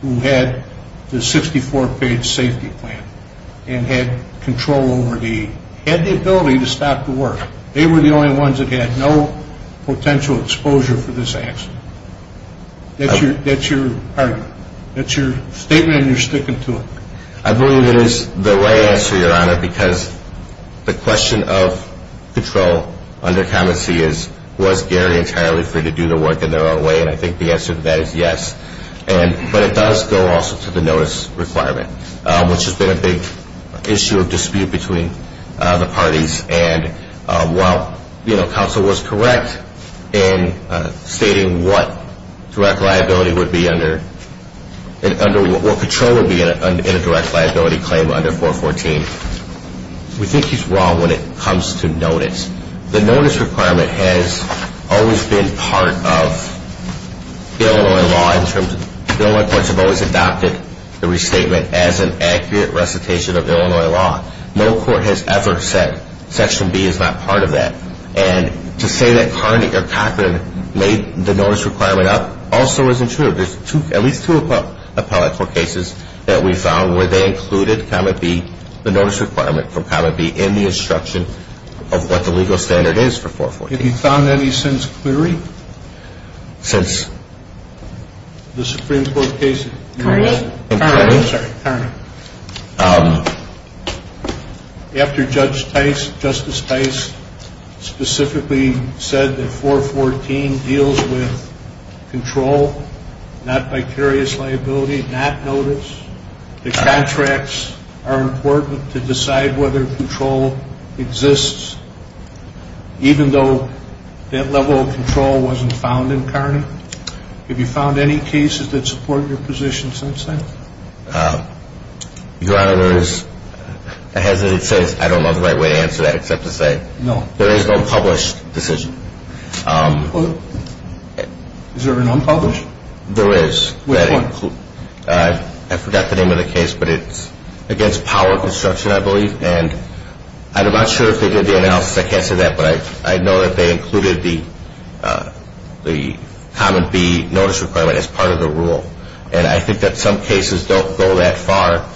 who had the 64-page safety plan and had control over the, had the ability to stop the work. They were the only ones that had no potential exposure for this accident. That's your argument. That's your statement and you're sticking to it. I believe it is the right answer, Your Honor, because the question of control under connoissee is, was Gary entirely free to do the work in their own way? And I think the answer to that is yes. But it does go also to the notice requirement, which has been a big issue of dispute between the parties. And while, you know, counsel was correct in stating what direct liability would be under, what control would be in a direct liability claim under 414, we think he's wrong when it comes to notice. The notice requirement has always been part of Illinois law in terms of, Illinois courts have always adopted the restatement as an accurate recitation of Illinois law. No court has ever said Section B is not part of that. And to say that Carnegie or Cochran made the notice requirement up also isn't true. There's at least two appellate court cases that we found where they included Commit B, the notice requirement for Commit B in the instruction of what the legal standard is for 414. Have you found any since Cleary? Since? The Supreme Court case. Tarnum. Tarnum. Sorry, Tarnum. After Judge Tice, Justice Tice specifically said that 414 deals with control, not vicarious liability, not notice, that contracts are important to decide whether control exists even though that level of control wasn't found in Carney. Have you found any cases that support your position since then? Your Honor, there is a hesitant sense, I don't know the right way to answer that except to say there is no published decision. Is there an unpublished? There is. Which one? I forgot the name of the case, but it's against power of construction, I believe. And I'm not sure if they did the analysis, I can't say that, but I know that they included the Commit B notice requirement as part of the rule. And I think that some cases don't go that far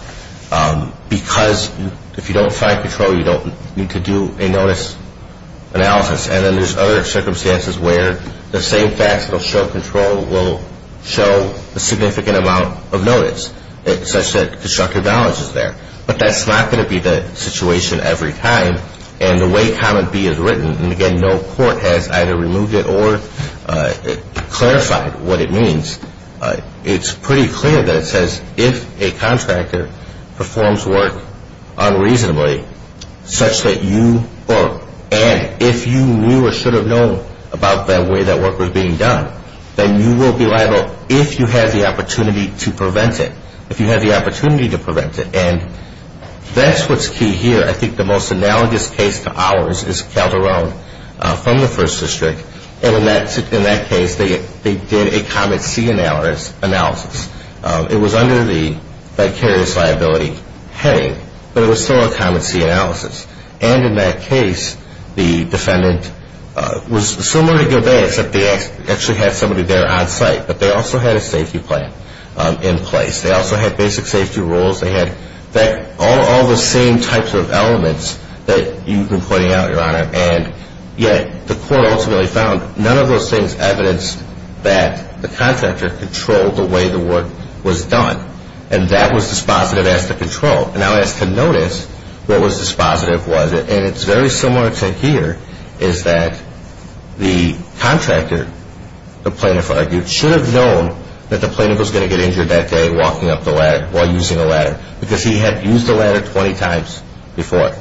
because if you don't find control, you don't need to do a notice analysis. And then there's other circumstances where the same facet of show control will show a significant amount of notice, such that constructive knowledge is there. But that's not going to be the situation every time. And the way Commit B is written, and again, no court has either removed it or clarified what it means, it's pretty clear that it says if a contractor performs work unreasonably, such that you, and if you knew or should have known about the way that work was being done, then you will be liable if you have the opportunity to prevent it. If you have the opportunity to prevent it. And that's what's key here. I think the most analogous case to ours is Calderone from the First District. And in that case, they did a Commit C analysis. It was under the vicarious liability heading, but it was still a Commit C analysis. And in that case, the defendant was similar to Gilbert, except they actually had somebody there on site. But they also had a safety plan in place. They also had basic safety rules. They had all the same types of elements that you've been pointing out, Your Honor. And yet the court ultimately found none of those things evidenced that the contractor controlled the way the work was done. And that was dispositive as to control. Now as to notice, what was dispositive was, and it's very similar to here, is that the contractor, the plaintiff argued, should have known that the plaintiff was going to get injured that day walking up the ladder while using the ladder because he had used the ladder 20 times before.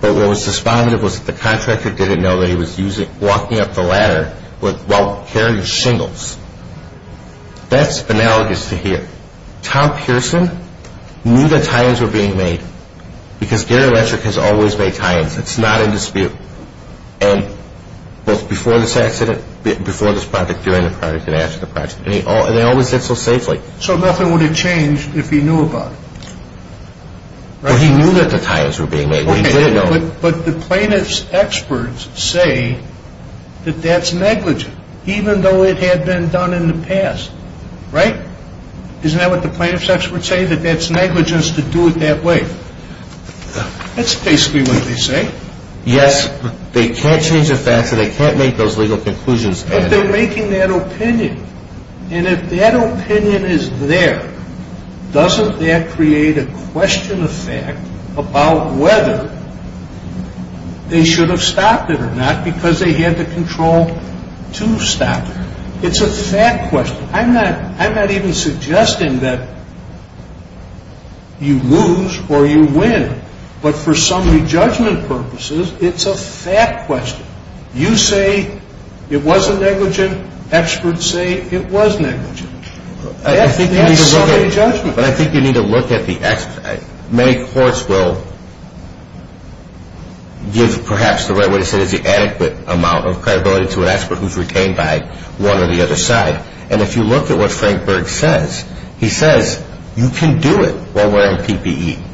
But what was dispositive was that the contractor didn't know that he was walking up the ladder while carrying shingles. That's analogous to here. Tom Pearson knew that tie-ins were being made. Because Gary Letcherk has always made tie-ins. It's not in dispute. And both before this accident, before this project, during the project, and after the project. And they always did so safely. So nothing would have changed if he knew about it. Well, he knew that the tie-ins were being made. But he didn't know. But the plaintiff's experts say that that's negligent, even though it had been done in the past. Right? Isn't that what the plaintiff's experts say? That that's negligence to do it that way. That's basically what they say. Yes. They can't change the facts and they can't make those legal conclusions. But they're making that opinion. And if that opinion is there, doesn't that create a question of fact about whether they should have stopped it or not because they had the control to stop it? It's a fact question. I'm not even suggesting that you lose or you win. But for summary judgment purposes, it's a fact question. You say it wasn't negligent. Experts say it was negligent. That's summary judgment. But I think you need to look at the experts. Many courts will give perhaps the right way to say this, the adequate amount of credibility to an expert who's retained by one or the other side. And if you look at what Frank Berg says, he says you can do it while wearing PPE.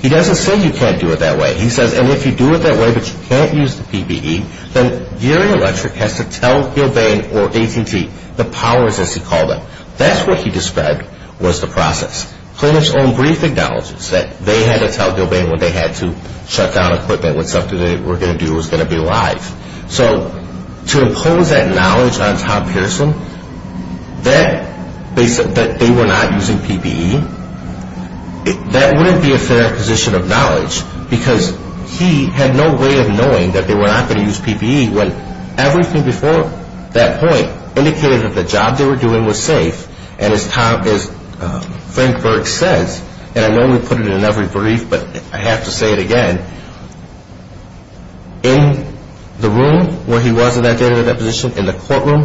He doesn't say you can't do it that way. He says, and if you do it that way but you can't use the PPE, then Geary Electric has to tell Gilbane or AT&T, the powers as he called them. That's what he described was the process. Plaintiff's own brief acknowledges that they had to tell Gilbane when they had to shut down equipment when something they were going to do was going to be live. So to impose that knowledge on Tom Pearson that they were not using PPE, that wouldn't be a fair acquisition of knowledge because he had no way of knowing that they were not going to use PPE when everything before that point indicated that the job they were doing was safe. And as Frank Berg says, and I normally put it in every brief but I have to say it again, in the room where he was in that data deposition, in the courtroom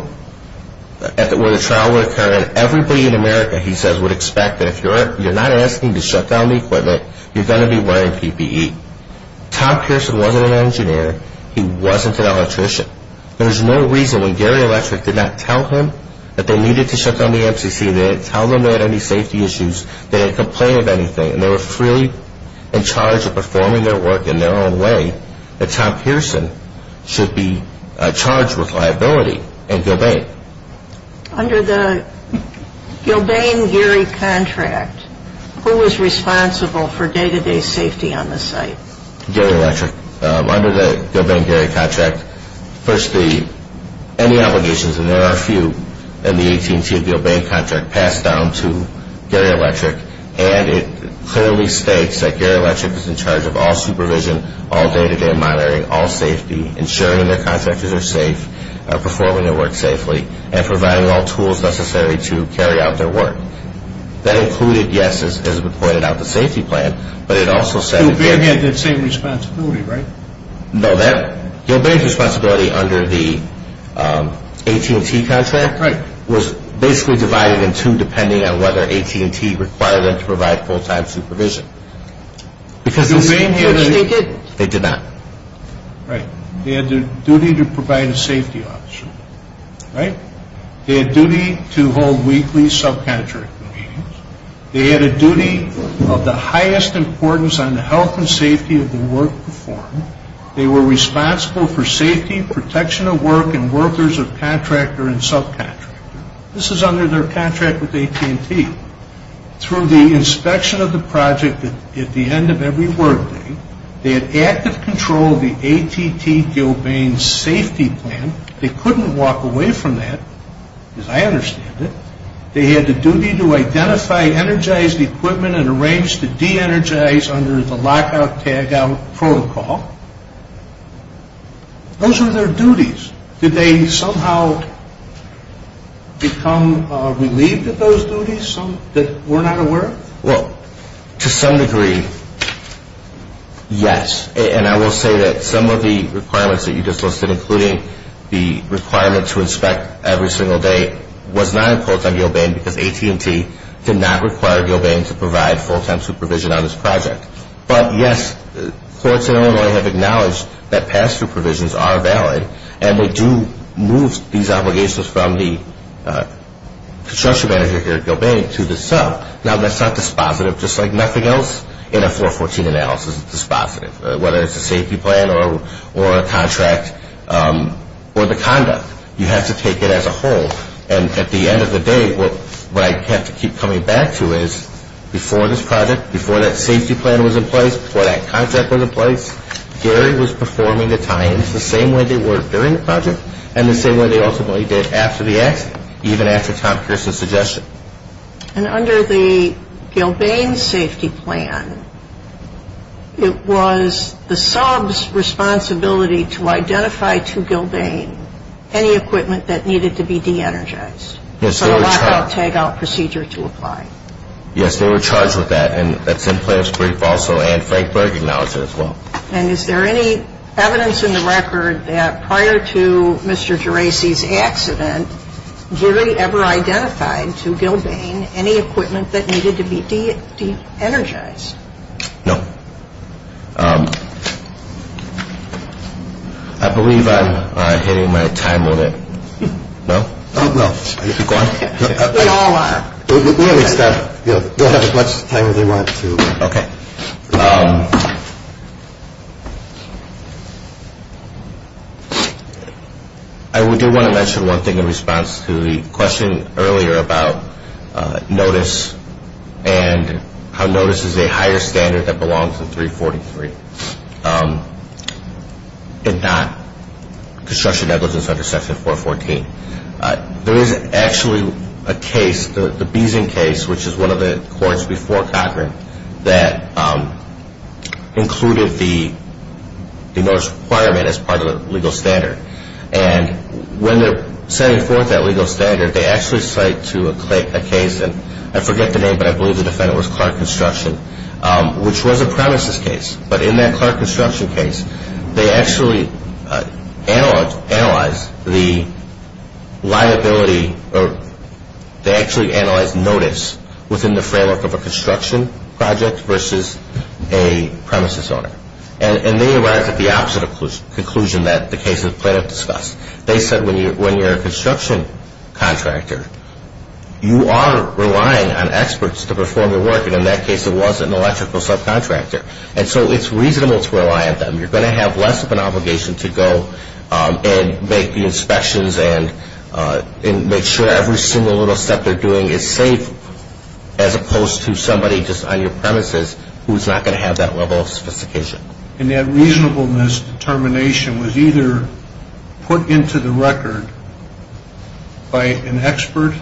where the trial would occur, and everybody in America, he says, would expect that if you're not asking to shut down the equipment, you're going to be wearing PPE. Tom Pearson wasn't an engineer. He wasn't an electrician. There was no reason when Geary Electric did not tell him that they needed to shut down the MCC, they didn't tell them they had any safety issues, they didn't complain of anything, and they were freely in charge of performing their work in their own way, that Tom Pearson should be charged with liability in Gilbane. Under the Gilbane-Geary contract, who was responsible for day-to-day safety on the site? Geary Electric. Under the Gilbane-Geary contract, first the, and the obligations, and there are a few, and the AT&T and Gilbane contract passed down to Geary Electric, and it clearly states that Geary Electric is in charge of all supervision, all day-to-day monitoring, all safety, ensuring their contractors are safe, performing their work safely, and providing all tools necessary to carry out their work. That included, yes, as was pointed out, the safety plan, but it also said that Gilbane... Gilbane had that same responsibility, right? No, that, Gilbane's responsibility under the AT&T contract was basically divided in two depending on whether AT&T required them to provide full-time supervision. Because the same year that... Did the same year that they did? They did not. Right. They had the duty to provide a safety officer, right? They had duty to hold weekly subcontractor meetings. They had a duty of the highest importance on the health and safety of the work performed. They were responsible for safety, protection of work, and workers of contractor and subcontractor. This is under their contract with AT&T. Through the inspection of the project at the end of every workday, they had active control of the AT&T Gilbane safety plan. They couldn't walk away from that, as I understand it. They had the duty to identify energized equipment and arrange to de-energize under the lockout-tagout protocol. Those were their duties. Did they somehow become relieved of those duties that were not aware of? Well, to some degree, yes. And I will say that some of the requirements that you just listed, including the requirement to inspect every single day was not imposed on Gilbane because AT&T did not require Gilbane to provide full-time supervision on this project. But, yes, courts in Illinois have acknowledged that pass-through provisions are valid and they do move these obligations from the construction manager here at Gilbane to the sub. Now, that's not dispositive, just like nothing else in a 414 analysis is dispositive, whether it's a safety plan or a contract or the conduct. You have to take it as a whole. And at the end of the day, what I have to keep coming back to is, before this project, before that safety plan was in place, before that contract was in place, Gary was performing the times the same way they were during the project and the same way they ultimately did after the accident, even after Tom Pearson's suggestion. And under the Gilbane safety plan, it was the sub's responsibility to identify to Gilbane any equipment that needed to be de-energized for a lockout-tagout procedure to apply. Yes, they were charged with that. And that's in player's brief also. And Frank Berg acknowledged it as well. And is there any evidence in the record that prior to Mr. Geraci's accident, Gary ever identified to Gilbane any equipment that needed to be de-energized? No. I believe I'm hitting my time limit. No? No. We all are. We'll have as much time as we want to. Okay. Thank you. I do want to mention one thing in response to the question earlier about notice and how notice is a higher standard that belongs to 343 and not construction negligence under section 414. There is actually a case, the Beeson case, which is one of the courts before Cochran, that included the notice requirement as part of the legal standard. And when they're setting forth that legal standard, they actually cite to a case, and I forget the name, but I believe the defendant was Clark Construction, which was a premises case. But in that Clark Construction case, they actually analyzed the liability, or they actually analyzed notice within the framework of a construction project versus a premises owner. And they arrived at the opposite conclusion that the case is planned to discuss. They said when you're a construction contractor, you are relying on experts to perform your work. And in that case, it was an electrical subcontractor. And so it's reasonable to rely on them. You're going to have less of an obligation to go and make the inspections and make sure every single little step they're doing is safe, as opposed to somebody just on your premises who's not going to have that level of sophistication. And that reasonableness determination was either put into the record by an expert,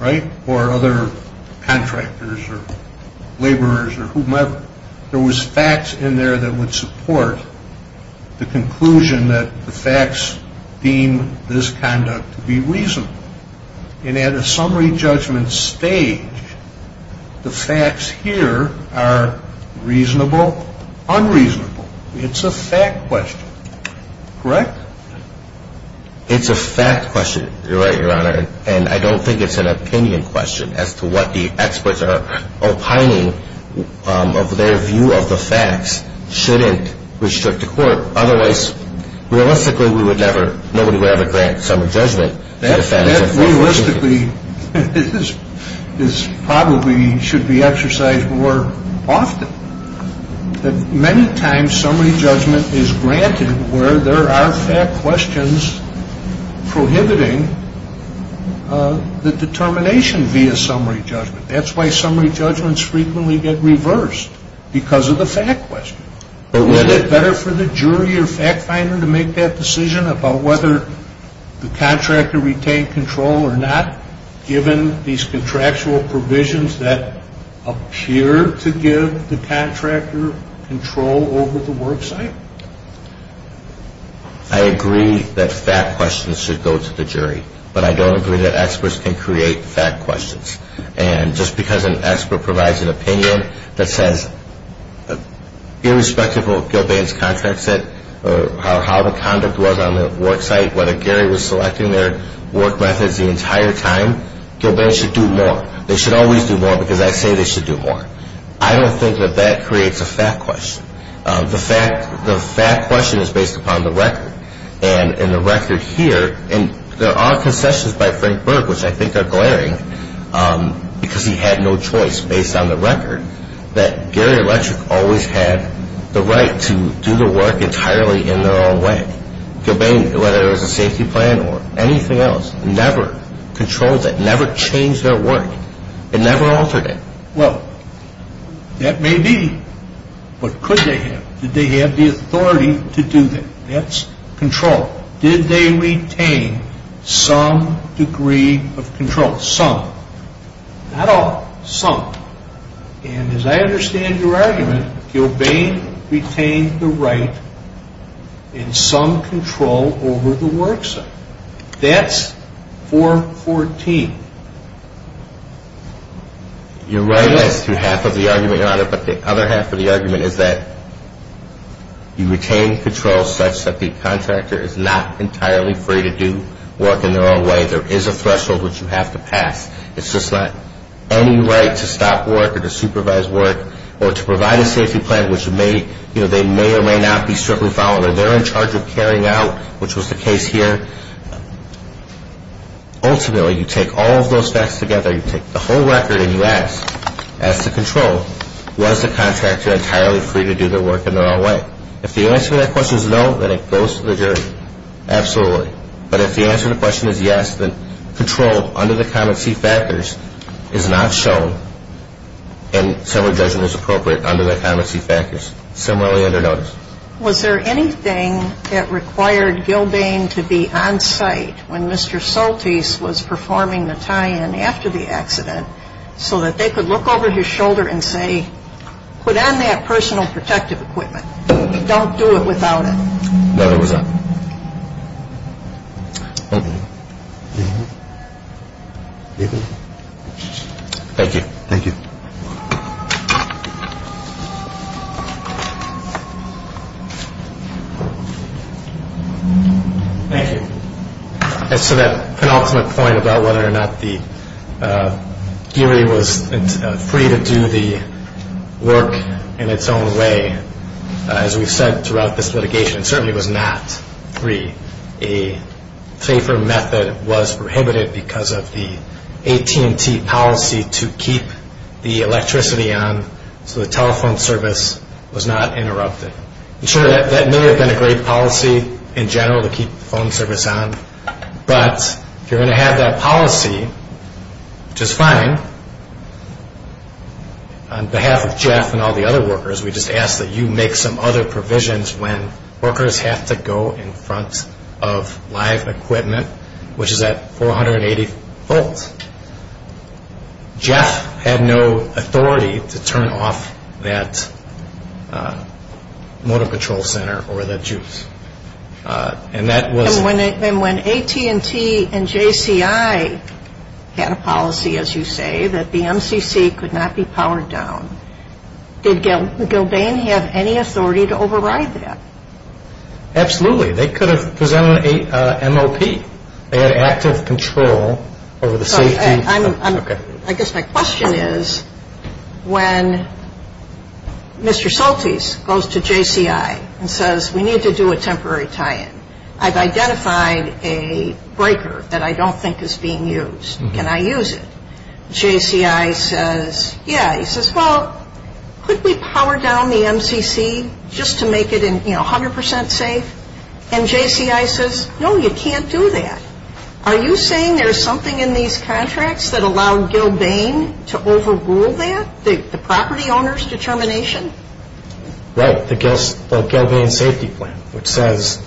right, or other contractors or laborers or whomever. There was facts in there that would support the conclusion that the facts deem this conduct to be reasonable. And at a summary judgment stage, the facts here are reasonable, unreasonable. It's a fact question. Correct? It's a fact question. You're right, Your Honor. And I don't think it's an opinion question as to what the experts are opining of their view of the facts shouldn't restrict the court. Otherwise, realistically, we would never ñ nobody would ever grant summary judgment. That realistically is probably should be exercised more often. Many times summary judgment is granted where there are fact questions prohibiting the determination via summary judgment. That's why summary judgments frequently get reversed because of the fact question. Isn't it better for the jury or fact finder to make that decision about whether the contractor retained control or not, given these contractual provisions that appear to give the contractor control over the worksite? I agree that fact questions should go to the jury. But I don't agree that experts can create fact questions. And just because an expert provides an opinion that says, irrespective of what Gilbane's contract said or how the conduct was on the worksite, whether Gary was selecting their work methods the entire time, Gilbane should do more. They should always do more because I say they should do more. I don't think that that creates a fact question. The fact question is based upon the record. And in the record here, and there are concessions by Frank Berg, which I think are glaring, because he had no choice based on the record, that Gary Electric always had the right to do the work entirely in their own way. Gilbane, whether it was a safety plan or anything else, never controlled that, never changed their work. It never altered it. Well, that may be. But could they have? Did they have the authority to do that? That's control. Did they retain some degree of control? Some. Not all. Some. And as I understand your argument, Gilbane retained the right and some control over the worksite. That's 414. You're right as to half of the argument, Your Honor. But the other half of the argument is that you retain control such that the contractor is not entirely free to do work in their own way. There is a threshold which you have to pass. It's just not any right to stop work or to supervise work or to provide a safety plan, which they may or may not be strictly following. They're in charge of carrying out, which was the case here. Ultimately, you take all of those facts together. You take the whole record and you ask, ask the control, was the contractor entirely free to do their work in their own way? If the answer to that question is no, then it goes to the jury. Absolutely. But if the answer to the question is yes, then control under the common seat factors is not shown and similar judgment is appropriate under the common seat factors, similarly under notice. Was there anything that required Gilbane to be on site when Mr. Soltis was performing the tie-in after the accident so that they could look over his shoulder and say, put on that personal protective equipment. Don't do it without it. No, there was not. Thank you. Thank you. Thank you. As to that penultimate point about whether or not the jury was free to do the work in its own way, as we've said throughout this litigation, it certainly was not free. A safer method was prohibited because of the AT&T policy to keep the electricity on so the telephone service was not interrupted. Sure, that may have been a great policy in general to keep the phone service on, but if you're going to have that policy, which is fine, on behalf of Jeff and all the other workers, we just ask that you make some other provisions when workers have to go in front of live equipment, which is at 480 volts. Jeff had no authority to turn off that motor control center or that juice. And when AT&T and JCI had a policy, as you say, that the MCC could not be powered down, did Gilbane have any authority to override that? Absolutely. They could have presented an MOP. They had active control over the safety. I guess my question is, when Mr. Soltis goes to JCI and says, we need to do a temporary tie-in, I've identified a breaker that I don't think is being used. Can I use it? JCI says, yeah. He says, well, could we power down the MCC just to make it 100% safe? And JCI says, no, you can't do that. Are you saying there's something in these contracts that allow Gilbane to overrule that, the property owner's determination? Right, the Gilbane safety plan, which says,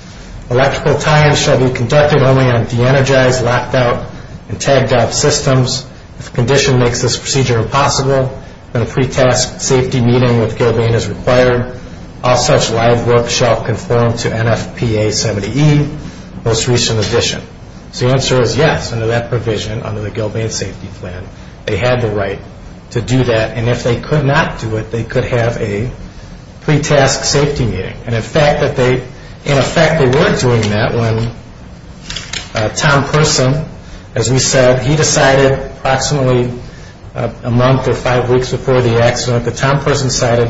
electrical tie-ins shall be conducted only on de-energized, locked out, and tagged out systems. If the condition makes this procedure impossible, then a pre-tasked safety meeting with Gilbane is required. All such live work shall conform to NFPA 70E, most recent edition. So the answer is yes, under that provision, under the Gilbane safety plan, they had the right to do that. And if they could not do it, they could have a pre-tasked safety meeting. And in fact, they were doing that when Tom Person, as we said, he decided approximately a month or five weeks before the accident, when Tom Person decided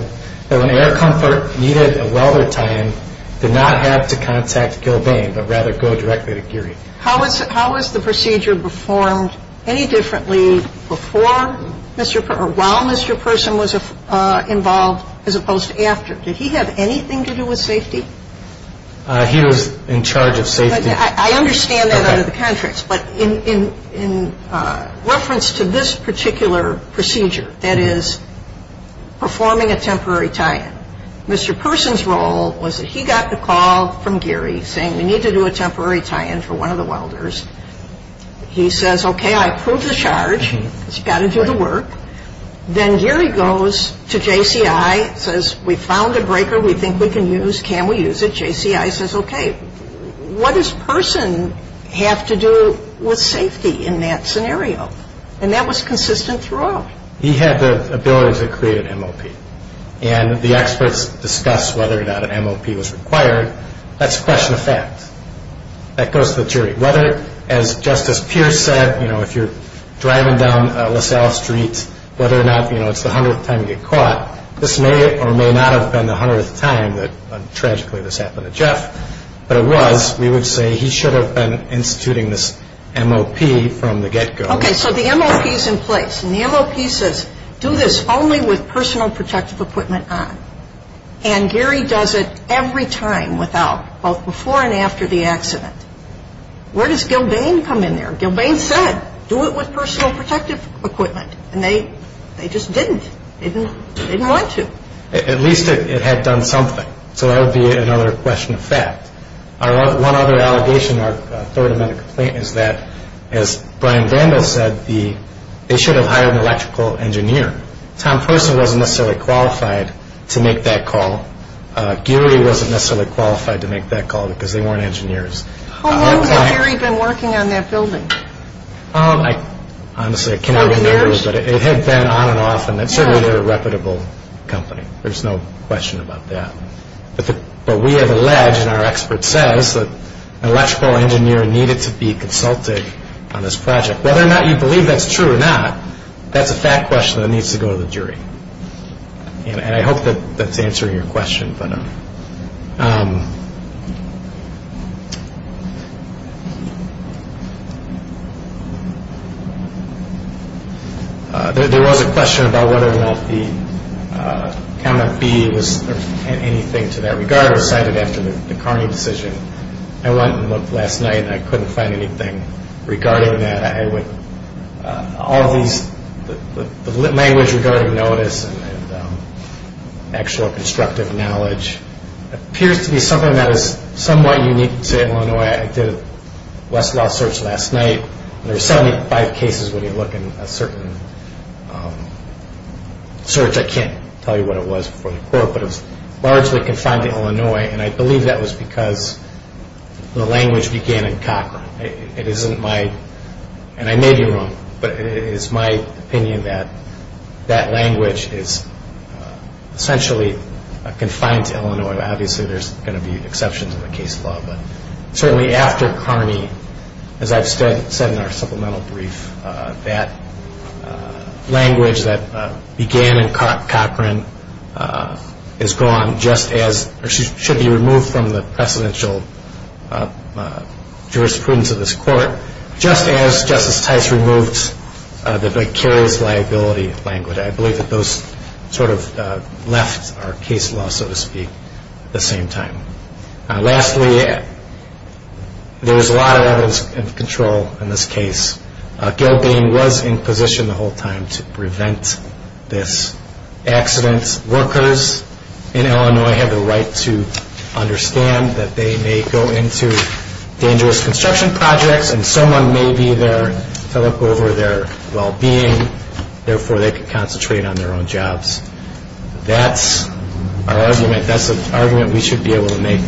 that when air comfort needed a welder tie-in, did not have to contact Gilbane, but rather go directly to Geary. How was the procedure performed any differently before Mr. or while Mr. Person was involved as opposed to after? Did he have anything to do with safety? He was in charge of safety. I understand that under the contracts, but in reference to this particular procedure, there is a particular procedure that is performing a temporary tie-in. Mr. Person's role was that he got the call from Geary saying we need to do a temporary tie-in for one of the welders. He says, okay, I approve the charge. He's got to do the work. Then Geary goes to JCI, says we found a breaker we think we can use, can we use it? And JCI says, okay, what does Person have to do with safety in that scenario? And that was consistent throughout. He had the ability to create an MOP. And the experts discussed whether or not an MOP was required. That's question of fact. That goes to the jury. Whether, as Justice Pierce said, you know, if you're driving down LaSalle Street, whether or not, you know, it's the hundredth time you get caught, this may or may not have been the hundredth time that tragically this happened to Jeff, but it was, we would say he should have been instituting this MOP from the get-go. Okay, so the MOP is in place. And the MOP says do this only with personal protective equipment on. And Geary does it every time without, both before and after the accident. Where does Gilbane come in there? Gilbane said do it with personal protective equipment. And they just didn't. They didn't want to. At least it had done something. So that would be another question of fact. One other allegation or third amendment complaint is that, as Brian Vandal said, they should have hired an electrical engineer. Tom Person wasn't necessarily qualified to make that call. Geary wasn't necessarily qualified to make that call because they weren't engineers. How long had Geary been working on that building? Honestly, I cannot remember. But it had been on and off, and certainly they're a reputable company. There's no question about that. But we have alleged, and our expert says, that an electrical engineer needed to be consulted on this project. Whether or not you believe that's true or not, that's a fact question that needs to go to the jury. And I hope that that's answering your question. There was a question about whether or not the comment B was anything to that regard or cited after the Carney decision. I went and looked last night, and I couldn't find anything regarding that. All of these, the language regarding notice and actual constructive knowledge appears to be something that is somewhat unique to Illinois. I did a Westlaw search last night, and there were 75 cases when you look in a certain search. I can't tell you what it was before the court, but it was largely confined to Illinois, and I believe that was because the language began in Cochran. It isn't my, and I may be wrong, but it is my opinion that that language is essentially confined to Illinois. Obviously, there's going to be exceptions in the case law, but certainly after Carney, as I've said in our supplemental brief, that language that began in Cochran is gone, or should be removed from the precedential jurisprudence of this court, just as Justice Tice removed the vicarious liability language. I believe that those sort of left our case law, so to speak, at the same time. Lastly, there's a lot of levels of control in this case. Gilbane was in position the whole time to prevent this accident. Workers in Illinois have the right to understand that they may go into dangerous construction projects, and someone may be there to look over their well-being, therefore they can concentrate on their own jobs. That's our argument. That's the argument we should be able to make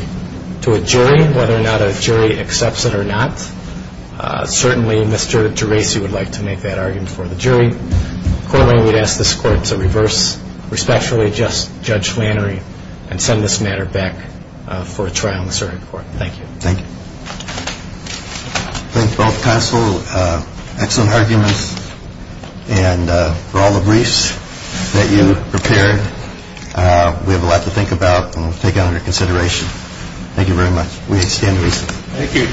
to a jury, whether or not a jury accepts it or not. Certainly, Mr. Gerasi would like to make that argument for the jury. Corwin, we'd ask this court to reverse, respectfully, Judge Flannery and send this matter back for a trial in the Supreme Court. Thank you. Thank you. Thank you both, counsel. Excellent arguments. And for all the briefs that you prepared, we have a lot to think about and we'll take it under consideration. Thank you very much. We extend reason. Thank you.